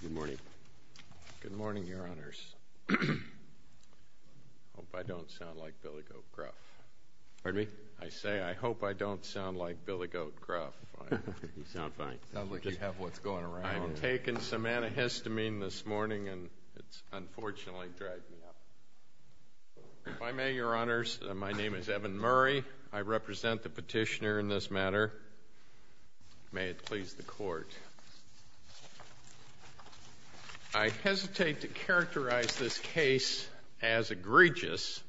Good morning. Good morning, Your Honors. I hope I don't sound like Billy Goat Gruff. Pardon me? I say, I hope I don't sound like Billy Goat Gruff. You sound fine. Sounds like you have what's going around. I've taken some antihistamine this morning, and it's unfortunately dragged me up. If I may, Your Honors, my name is Evan Murray. I represent the petitioner in this matter. May it please the Court. I hesitate to characterize this case as egregious,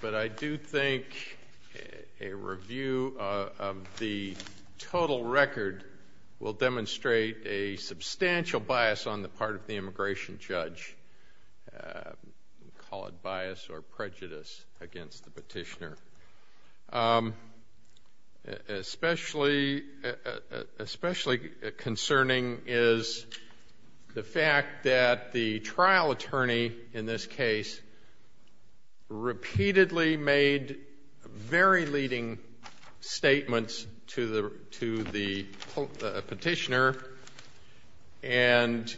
but I do think a review of the total record will demonstrate a substantial bias on the part of the immigration judge. We call it bias or prejudice against the petitioner. Especially concerning is the fact that the trial attorney in this case repeatedly made very leading statements to the petitioner and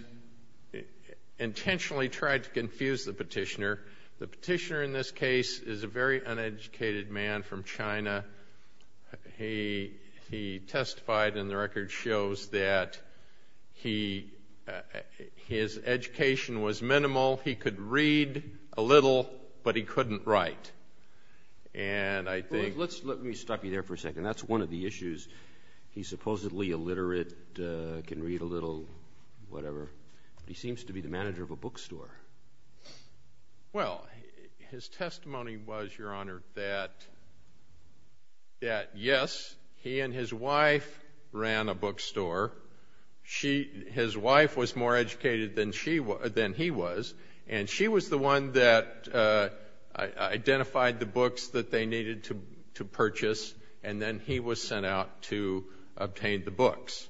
intentionally tried to confuse the petitioner. The petitioner in this case is a very uneducated man from China. He testified, and the record shows that his education was minimal. He could read a little, but he couldn't write. Let me stop you there for a second. That's one of the issues. He's supposedly illiterate, can read a little, whatever, but he seems to be the manager of a bookstore. Well, his testimony was, Your Honor, that yes, he and his wife ran a bookstore. His wife was more educated than he was, and she was the one that identified the books that they needed to purchase, and then he was sent out to obtain the books.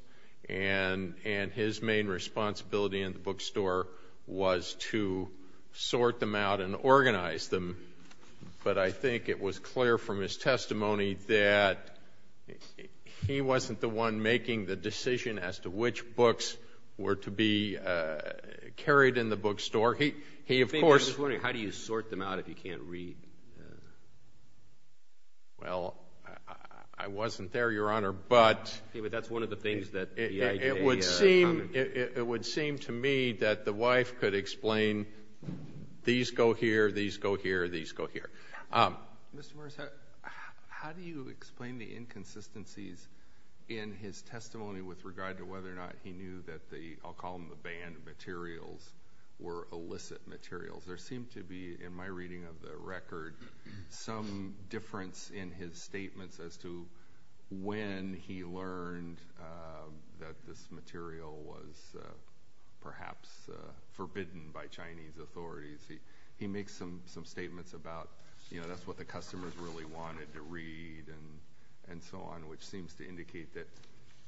And his main responsibility in the bookstore was to sort them out and organize them. But I think it was clear from his testimony that he wasn't the one making the decision as to which books were to be carried in the bookstore. I'm just wondering, how do you sort them out if you can't read? Well, I wasn't there, Your Honor, but it would seem to me that the wife could explain, these go here, these go here, these go here. Mr. Morris, how do you explain the inconsistencies in his testimony with regard to whether or not he knew that the, I'll call them the banned materials, were illicit materials? There seemed to be, in my reading of the record, some difference in his statements as to when he learned that this material was perhaps forbidden by Chinese authorities. He makes some statements about, you know, that's what the customers really wanted to read and so on, which seems to indicate that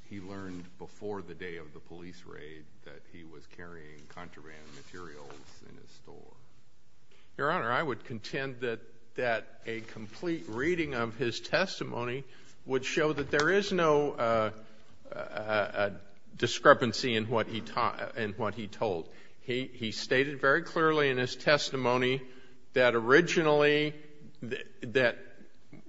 he learned before the day of the police raid that he was carrying contraband materials in his store. Your Honor, I would contend that a complete reading of his testimony would show that there is no discrepancy in what he told. He stated very clearly in his testimony that originally that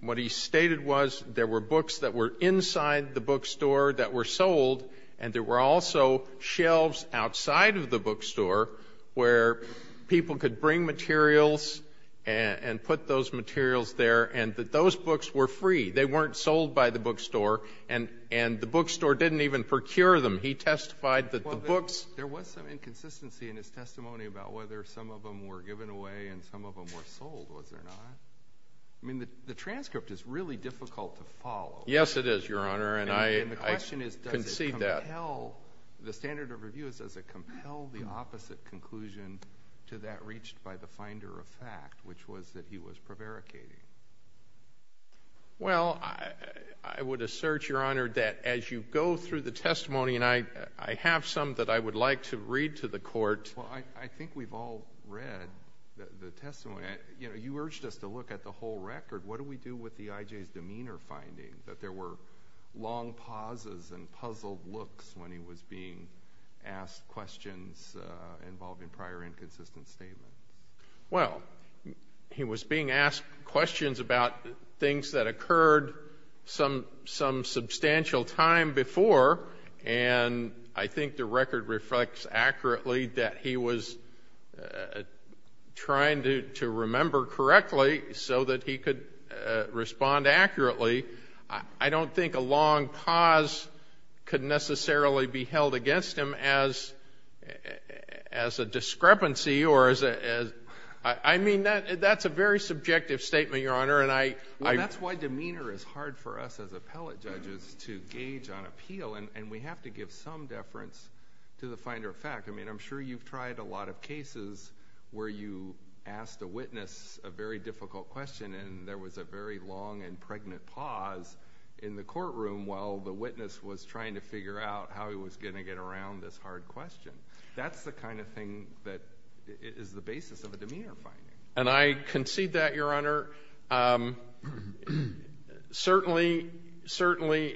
what he stated was there were books that were inside the bookstore that were sold, and there were also shelves outside of the bookstore where people could bring materials and put those materials there, and that those books were free. They weren't sold by the bookstore, and the bookstore didn't even procure them. He testified that the books Well, there was some inconsistency in his testimony about whether some of them were given away and some of them were sold, was there not? I mean, the transcript is really difficult to follow. Yes, it is, Your Honor, and I concede that. And the question is, does it compel, the standard of review, does it compel the opposite conclusion to that reached by the finder of fact, which was that he was prevaricating? Well, I would assert, Your Honor, that as you go through the testimony, and I have some that I would like to read to the Court. Well, I think we've all read the testimony. You know, you urged us to look at the whole record. What do we do with the I.J.'s demeanor finding, that there were long pauses and puzzled looks when he was being asked questions involving prior inconsistent statements? Well, he was being asked questions about things that occurred some substantial time before, and I think the record reflects accurately that he was trying to remember correctly so that he could respond accurately. I don't think a long pause could necessarily be held against him as a discrepancy. I mean, that's a very subjective statement, Your Honor. That's why demeanor is hard for us as appellate judges to gauge on appeal, and we have to give some deference to the finder of fact. I mean, I'm sure you've tried a lot of cases where you asked a witness a very difficult question and there was a very long and pregnant pause in the courtroom while the witness was trying to figure out how he was going to get around this hard question. That's the kind of thing that is the basis of a demeanor finding. And I concede that, Your Honor. Certainly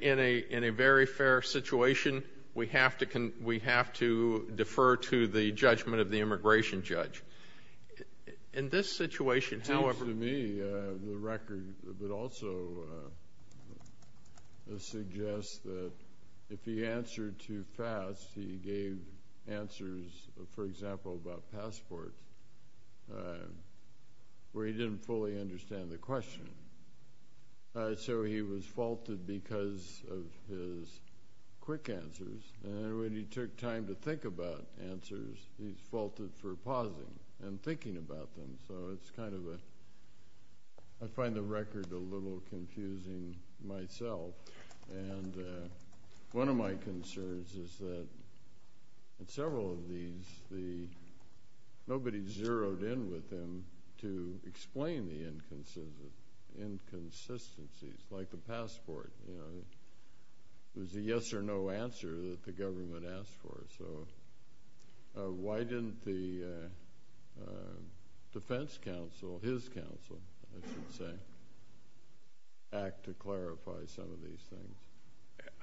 in a very fair situation, we have to defer to the judgment of the immigration judge. In this situation, however— It seems to me the record would also suggest that if he answered too fast, he gave answers, for example, about passports, where he didn't fully understand the question. So he was faulted because of his quick answers, and when he took time to think about answers, he's faulted for pausing and thinking about them. So it's kind of a—I find the record a little confusing myself. And one of my concerns is that in several of these, nobody zeroed in with him to explain the inconsistencies, like the passport. It was a yes or no answer that the government asked for. So why didn't the defense counsel, his counsel, I should say, act to clarify some of these things?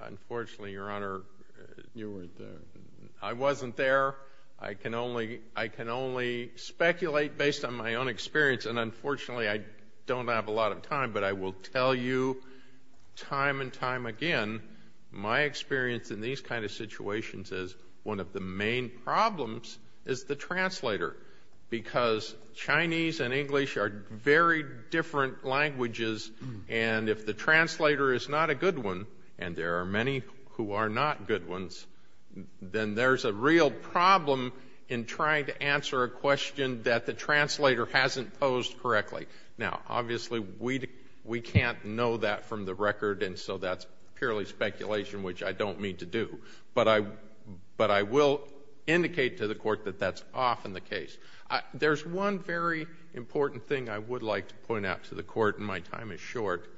Unfortunately, Your Honor— You weren't there. I wasn't there. I can only speculate based on my own experience, and unfortunately I don't have a lot of time, but I will tell you time and time again, my experience in these kind of situations is one of the main problems is the translator, because Chinese and English are very different languages, and if the translator is not a good one, and there are many who are not good ones, then there's a real problem in trying to answer a question that the translator hasn't posed correctly. Now, obviously, we can't know that from the record, and so that's purely speculation, which I don't mean to do, but I will indicate to the Court that that's often the case. There's one very important thing I would like to point out to the Court, and my time is short.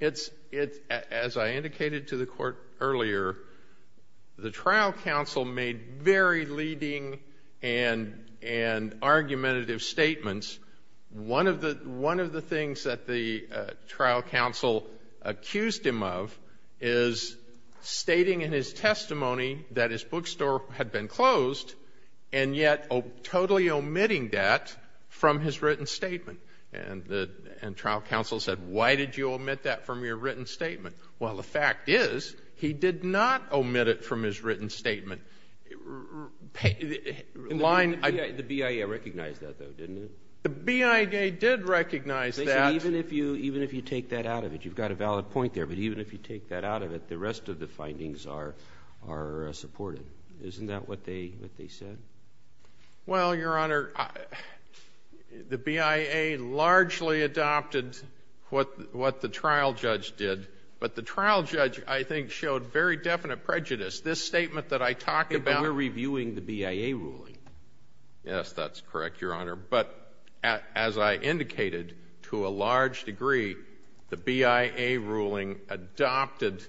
As I indicated to the Court earlier, the trial counsel made very leading and argumentative statements. One of the things that the trial counsel accused him of is stating in his testimony that his bookstore had been closed, and yet totally omitting that from his written statement. And the trial counsel said, why did you omit that from your written statement? Well, the fact is he did not omit it from his written statement. The BIA recognized that, though, didn't it? The BIA did recognize that. Even if you take that out of it, you've got a valid point there, but even if you take that out of it, the rest of the findings are supported. Isn't that what they said? Well, Your Honor, the BIA largely adopted what the trial judge did, but the trial judge, I think, showed very definite prejudice. This statement that I talked about --" They were reviewing the BIA ruling. Yes, that's correct, Your Honor. But as I indicated, to a large degree, the BIA ruling adopted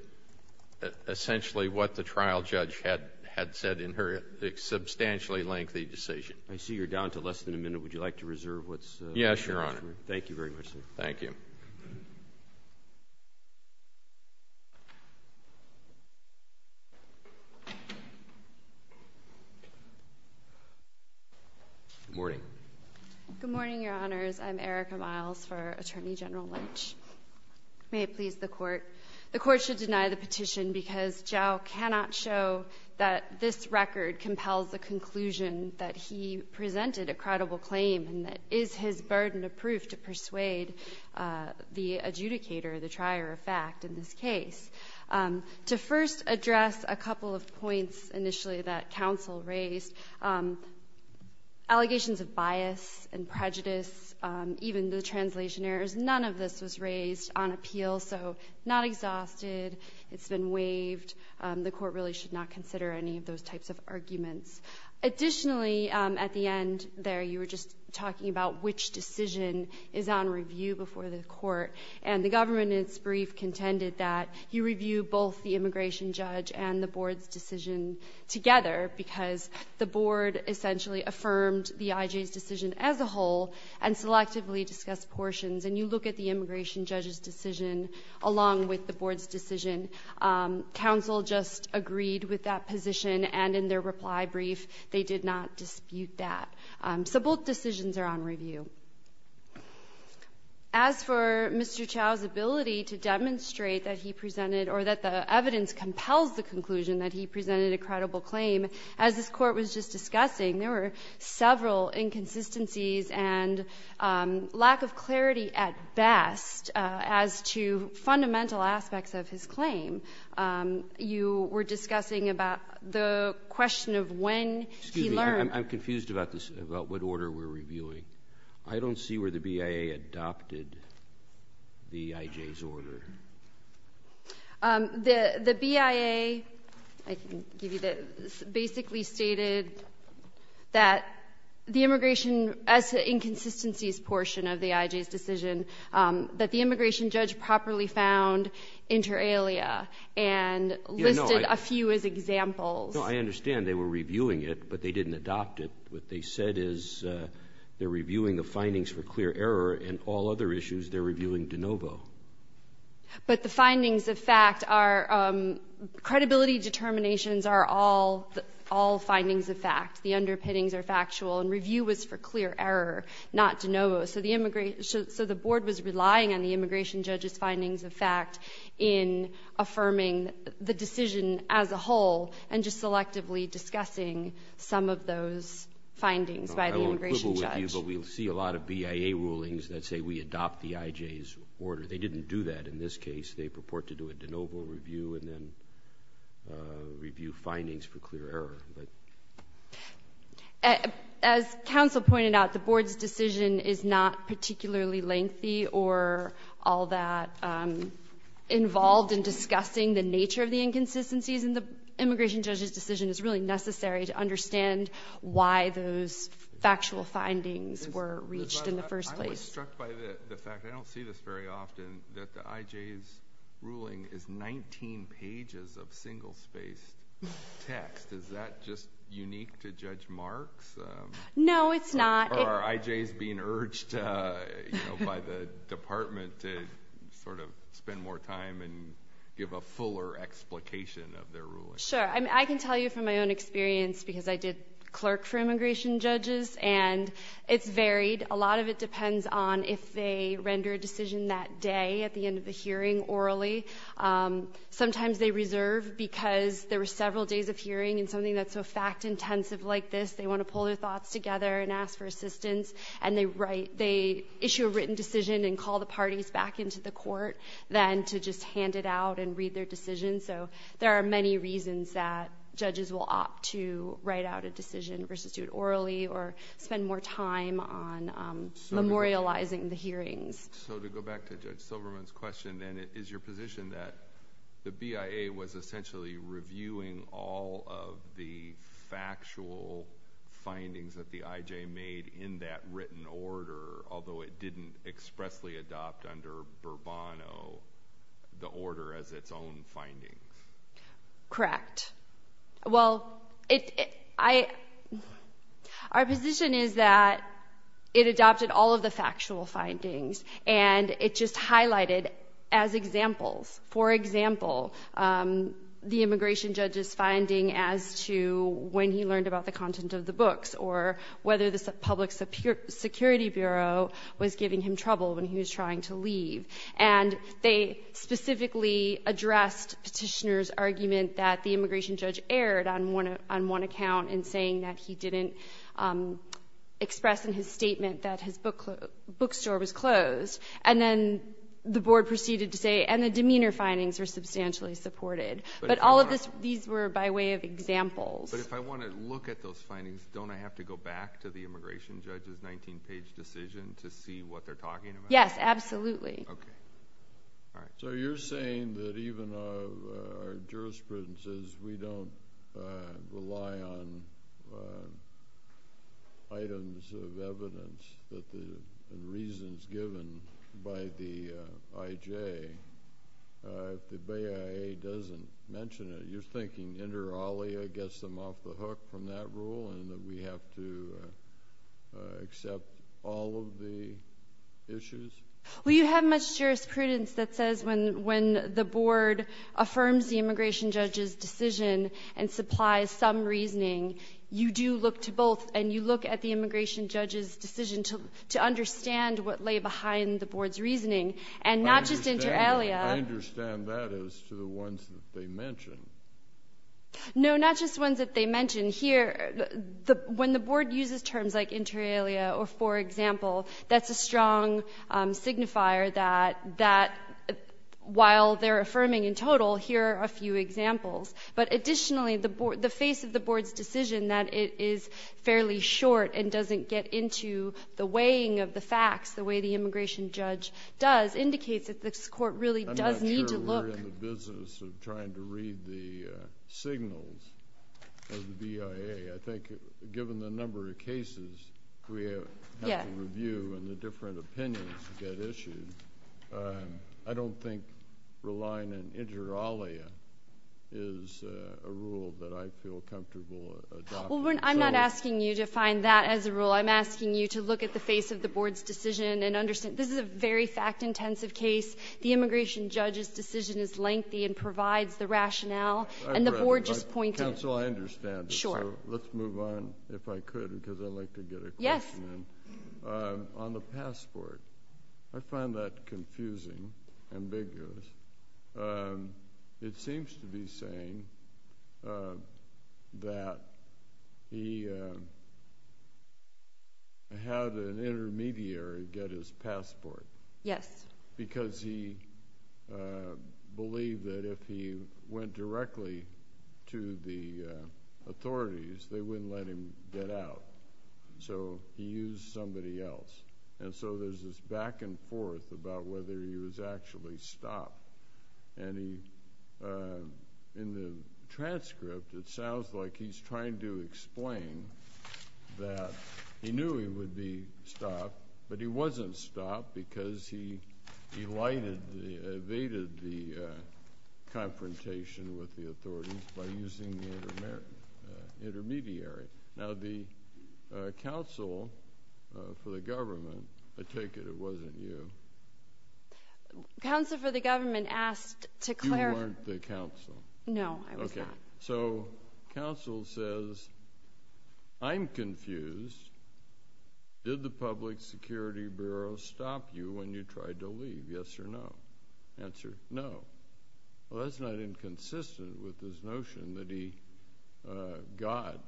essentially what the trial judge had said in her substantially lengthy decision. I see you're down to less than a minute. Would you like to reserve what's left? Yes, Your Honor. Thank you very much, sir. Thank you. Good morning. Good morning, Your Honors. I'm Erica Miles for Attorney General Lynch. May it please the Court. The Court should deny the petition because Zhao cannot show that this record compels the conclusion that he presented a credible claim and that it is his burden of proof to persuade the adjudicator, the trier of fact in this case. To first address a couple of points initially that counsel raised, allegations of bias and prejudice, even the translation errors, none of this was raised on appeal, so not exhausted. It's been waived. The Court really should not consider any of those types of arguments. Additionally, at the end there, you were just talking about which decision is on review before the Court, and the government in its brief contended that you review both the immigration judge and the Board's decision together because the Board essentially affirmed the IJ's decision as a whole and selectively discussed portions. And you look at the immigration judge's decision along with the Board's decision. Counsel just agreed with that position, and in their reply brief, they did not dispute that. So both decisions are on review. As for Mr. Zhao's ability to demonstrate that he presented or that the evidence compels the conclusion that he presented a credible claim, as this Court was just looking at best as to fundamental aspects of his claim, you were discussing about the question of when he learned. Excuse me. I'm confused about this, about what order we're reviewing. I don't see where the BIA adopted the IJ's order. The BIA, I can give you this, basically stated that the immigration inconsistencies portion of the IJ's decision that the immigration judge properly found inter alia and listed a few as examples. No, I understand they were reviewing it, but they didn't adopt it. What they said is they're reviewing the findings for clear error, and all other issues they're reviewing de novo. But the findings of fact are credibility determinations are all findings of fact. The underpinnings are factual. And review was for clear error, not de novo. So the board was relying on the immigration judge's findings of fact in affirming the decision as a whole and just selectively discussing some of those findings by the immigration judge. I won't quibble with you, but we see a lot of BIA rulings that say we adopt the IJ's order. They didn't do that in this case. They purport to do a de novo review and then review findings for clear error. As counsel pointed out, the board's decision is not particularly lengthy or all that involved in discussing the nature of the inconsistencies in the immigration judge's decision. It's really necessary to understand why those factual findings were reached in the first place. I'm just struck by the fact, I don't see this very often, that the IJ's ruling is 19 pages of single-spaced text. Is that just unique to Judge Marks? No, it's not. Or are IJ's being urged by the department to sort of spend more time and give a fuller explication of their ruling? Sure. I can tell you from my own experience, because I did clerk for immigration judges, and it's varied. A lot of it depends on if they render a decision that day at the end of the hearing orally. Sometimes they reserve because there were several days of hearing, and something that's so fact-intensive like this, they want to pull their thoughts together and ask for assistance. And they issue a written decision and call the parties back into the court then to just hand it out and read their decision. So there are many reasons that judges will opt to write out a decision versus do it memorializing the hearings. So to go back to Judge Silverman's question, then, is your position that the BIA was essentially reviewing all of the factual findings that the IJ made in that written order, although it didn't expressly adopt under Bourbon the order as its own findings? Correct. Well, our position is that it adopted all of the factual findings, and it just highlighted as examples. For example, the immigration judge's finding as to when he learned about the content of the books or whether the Public Security Bureau was giving him trouble when he was trying to leave. And they specifically addressed Petitioner's argument that the immigration judge erred on one account in saying that he didn't express in his statement that his bookstore was closed. And then the Board proceeded to say, and the demeanor findings were substantially supported. But all of these were by way of examples. But if I want to look at those findings, don't I have to go back to the immigration judge's 19-page decision to see what they're talking about? Yes, absolutely. Okay. All right. So you're saying that even our jurisprudence is we don't rely on items of evidence that the reasons given by the IJ, if the BIA doesn't mention it, you're thinking inter alia gets them off the hook from that rule and that we have to accept all of the issues? Well, you have much jurisprudence that says when the Board affirms the immigration judge's decision and supplies some reasoning, you do look to both, and you look at the immigration judge's decision to understand what lay behind the Board's reasoning. And not just inter alia. I understand that as to the ones that they mention. No, not just ones that they mention. Here, when the Board uses terms like inter alia or for example, that's a strong signifier that while they're affirming in total, here are a few examples. But additionally, the face of the Board's decision that it is fairly short and doesn't get into the weighing of the facts the way the immigration judge does indicates that this Court really does need to look. I'm not sure we're in the business of trying to read the signals of the BIA. I think given the number of cases we have to review and the different opinions that get issued, I don't think relying on inter alia is a rule that I feel comfortable adopting. Well, I'm not asking you to find that as a rule. I'm asking you to look at the face of the Board's decision and understand this is a very fact-intensive case. The immigration judge's decision is lengthy and provides the rationale. And the Board just pointed to it. Counsel, I understand. Sure. Yes. On the passport, I find that confusing, ambiguous. It seems to be saying that he had an intermediary get his passport. Yes. Because he believed that if he went directly to the authorities, they wouldn't let him get out. So he used somebody else. And so there's this back and forth about whether he was actually stopped. And in the transcript, it sounds like he's trying to explain that he knew he would be stopped, but he wasn't stopped because he evaded the confrontation with the authorities by using the intermediary. Now, the counsel for the government, I take it it wasn't you. Counsel for the government asked to clarify. You weren't the counsel. No, I was not. Okay. So counsel says, I'm confused. Did the Public Security Bureau stop you when you tried to leave, yes or no? Answer, no. Well, that's not inconsistent with this notion that he got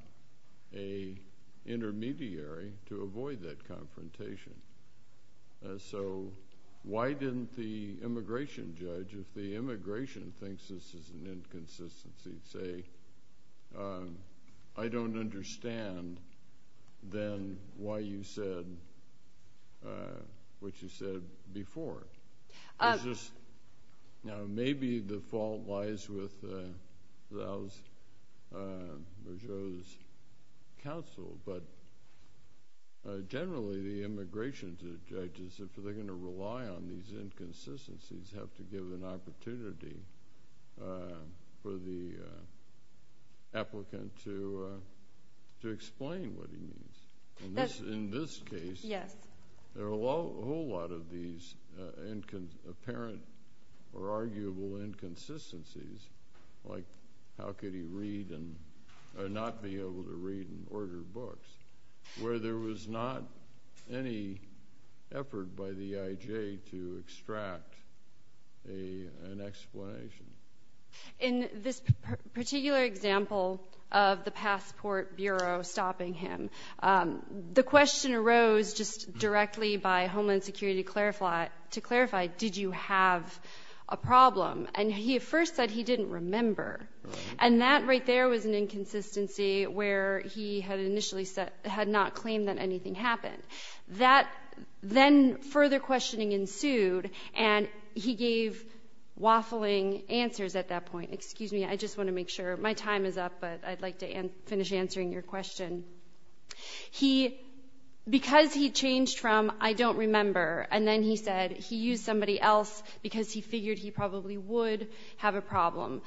an intermediary to avoid that confrontation. So why didn't the immigration judge, if the immigration thinks this is an inconsistency, say, I don't understand then why you said what you said before? Now, maybe the fault lies with Raul Bajot's counsel, but generally, the immigration judges, if they're going to rely on these inconsistencies, have to give an opportunity for the applicant to explain what he means. In this case, there are a whole lot of these apparent or arguable inconsistencies, like how could he read and not be able to read and order books, where there was not any effort by the IJ to extract an explanation. In this particular example of the Passport Bureau stopping him, the question arose just directly by Homeland Security to clarify, did you have a problem? And he at first said he didn't remember. And that right there was an inconsistency where he had initially said, had not claimed that anything happened. Then further questioning ensued, and he gave waffling answers at that point. Excuse me. I just want to make sure. My time is up, but I'd like to finish answering your question. Because he changed from, I don't remember, and then he said he used somebody else because he figured he probably would have a problem.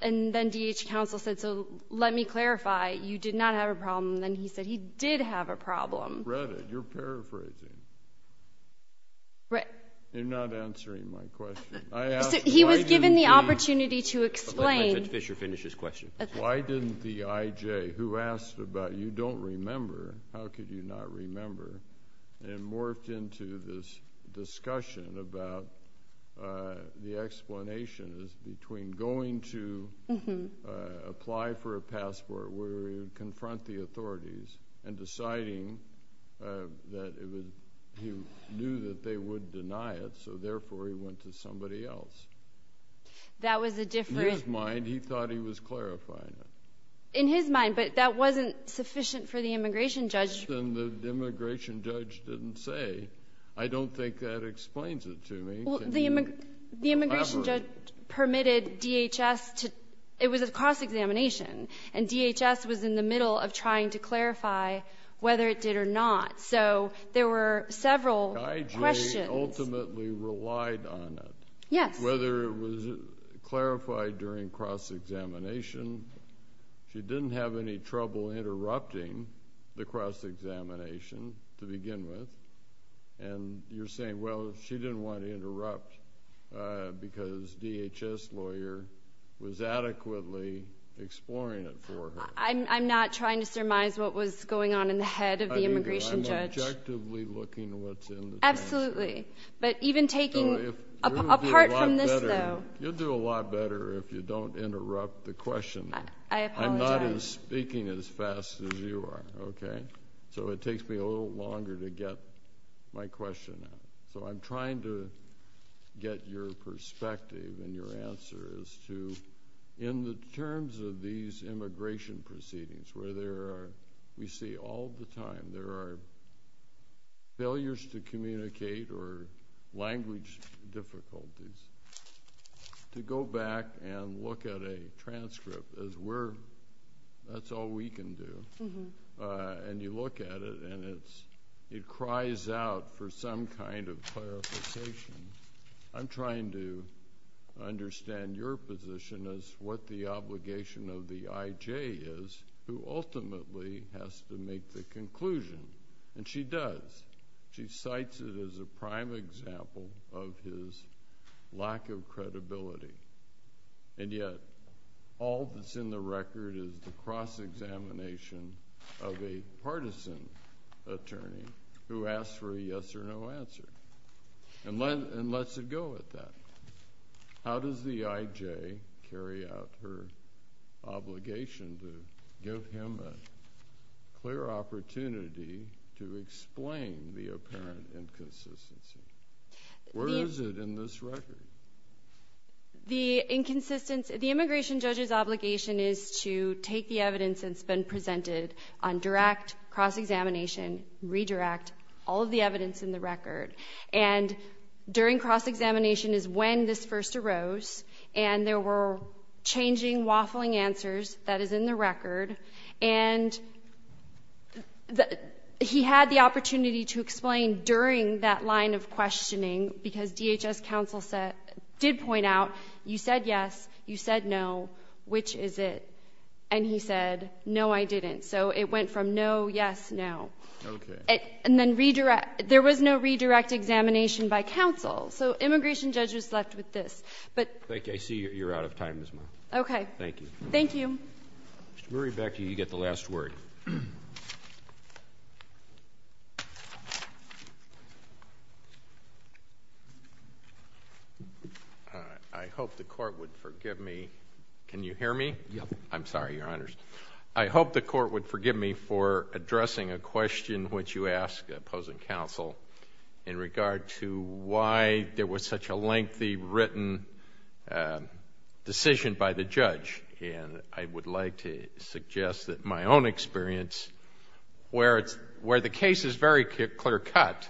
And then DH counsel said, so let me clarify. You did not have a problem. And then he said he did have a problem. I haven't read it. You're paraphrasing. You're not answering my question. He was given the opportunity to explain. Let Richard Fisher finish his question. Why didn't the IJ, who asked about you don't remember, how could you not remember, and morphed into this discussion about the explanations between going to apply for a passport where he would confront the authorities and deciding that he knew that they would deny it, so therefore he went to somebody else? That was a different – In his mind, he thought he was clarifying it. In his mind, but that wasn't sufficient for the immigration judge. And the immigration judge didn't say. I don't think that explains it to me. Can you elaborate? The immigration judge permitted DHS to – it was a cross-examination. And DHS was in the middle of trying to clarify whether it did or not. So there were several questions. The IJ ultimately relied on it. Yes. Whether it was clarified during cross-examination. She didn't have any trouble interrupting the cross-examination to begin with. And you're saying, well, she didn't want to interrupt because DHS lawyer was adequately exploring it for her. I'm not trying to surmise what was going on in the head of the immigration judge. I mean, I'm objectively looking at what's in the transcript. Absolutely. But even taking apart from this, though. You'll do a lot better if you don't interrupt the question. I apologize. I'm not as speaking as fast as you are, okay? So it takes me a little longer to get my question out. So I'm trying to get your perspective and your answer as to, in the terms of these immigration proceedings, where there are – we see all the time there are failures to communicate or language difficulties, to go back and look at a transcript as we're – that's all we can do. And you look at it and it cries out for some kind of clarification. I'm trying to understand your position as what the obligation of the IJ is who ultimately has to make the conclusion. And she does. She cites it as a prime example of his lack of credibility. And yet all that's in the record is the cross-examination of a partisan attorney who asks for a yes-or-no answer and lets it go at that. How does the IJ carry out her obligation to give him a clear opportunity to explain the apparent inconsistency? Where is it in this record? The inconsistency – the immigration judge's obligation is to take the evidence that's been presented on direct cross-examination, redirect all of the evidence in the record. And during cross-examination is when this first arose, and there were changing, waffling answers. That is in the record. And he had the opportunity to explain during that line of questioning because DHS counsel did point out, you said yes, you said no, which is it? And he said, no, I didn't. So it went from no, yes, no. Okay. And then redirect – there was no redirect examination by counsel. So immigration judge was left with this. I think I see you're out of time as well. Okay. Thank you. Thank you. Mr. Murray, back to you. You get the last word. I hope the Court would forgive me. Can you hear me? Yes. I'm sorry, Your Honors. I hope the Court would forgive me for addressing a question which you asked, opposing counsel, in regard to why there was such a lengthy written decision by the judge. And I would like to suggest that my own experience, where the case is very clear-cut,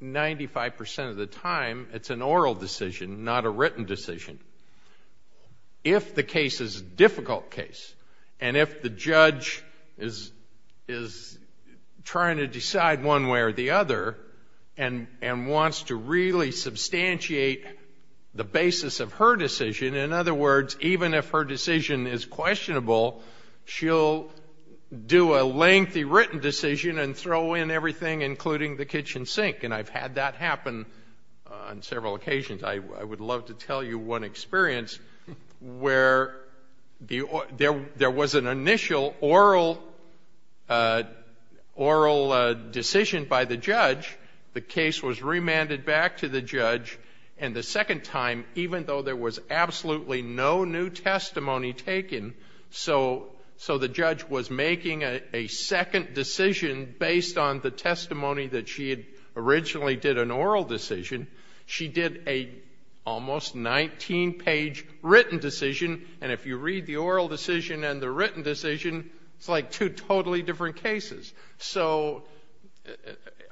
95 percent of the time it's an oral decision, not a written decision. If the case is a difficult case, and if the judge is trying to decide one way or the other and wants to really substantiate the basis of her decision, in other words, even if her decision is questionable, she'll do a lengthy written decision and throw in everything including the kitchen sink. And I've had that happen on several occasions. I would love to tell you one experience where there was an initial oral decision by the judge, the case was remanded back to the judge, and the second time, even though there was absolutely no new testimony taken, so the judge was making a second decision based on the testimony that she had originally did an oral decision, she did a almost 19-page written decision. And if you read the oral decision and the written decision, it's like two totally different cases. So,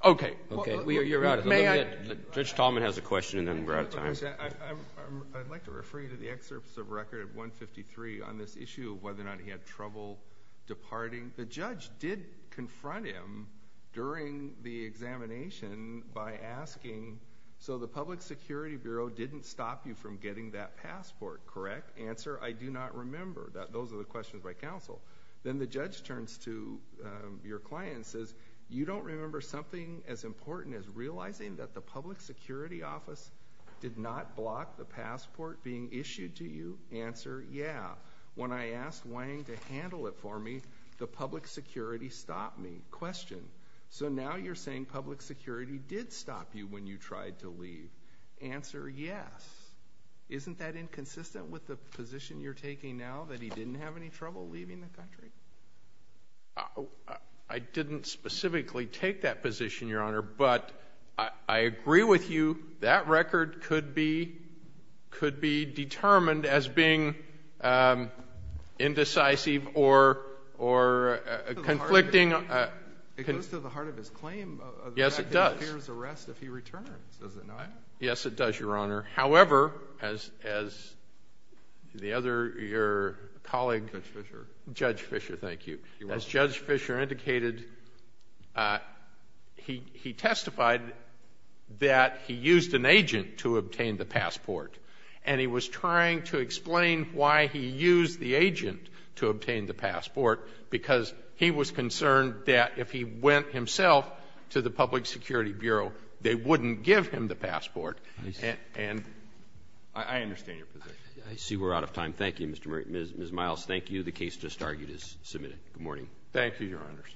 okay. Okay. You're out of time. Judge Tallman has a question, and then we're out of time. I'd like to refer you to the excerpts of record of 153 on this issue of whether or not he had trouble departing. The judge did confront him during the examination by asking, so the Public Security Bureau didn't stop you from getting that passport, correct? Answer, I do not remember. Those are the questions by counsel. Then the judge turns to your client and says, you don't remember something as important as realizing that the Public Security Office did not block the passport being issued to you? Answer, yeah. When I asked Wang to handle it for me, the Public Security stopped me. Question, so now you're saying Public Security did stop you when you tried to leave? Answer, yes. Isn't that inconsistent with the position you're taking now, that he didn't have any trouble leaving the country? I didn't specifically take that position, Your Honor, but I agree with you. That record could be determined as being indecisive or conflicting. It goes to the heart of his claim. Yes, it does. The fact that he fears arrest if he returns, does it not? Yes, it does, Your Honor. However, as the other, your colleague. Judge Fisher. Judge Fisher, thank you. You're welcome. As Judge Fisher indicated, he testified that he used an agent to obtain the passport. And he was trying to explain why he used the agent to obtain the passport, because he was concerned that if he went himself to the Public Security Bureau, they wouldn't give him the passport. And I understand your position. I see we're out of time. Thank you, Ms. Miles. Thank you. The case just argued is submitted. Good morning. Thank you, Your Honors.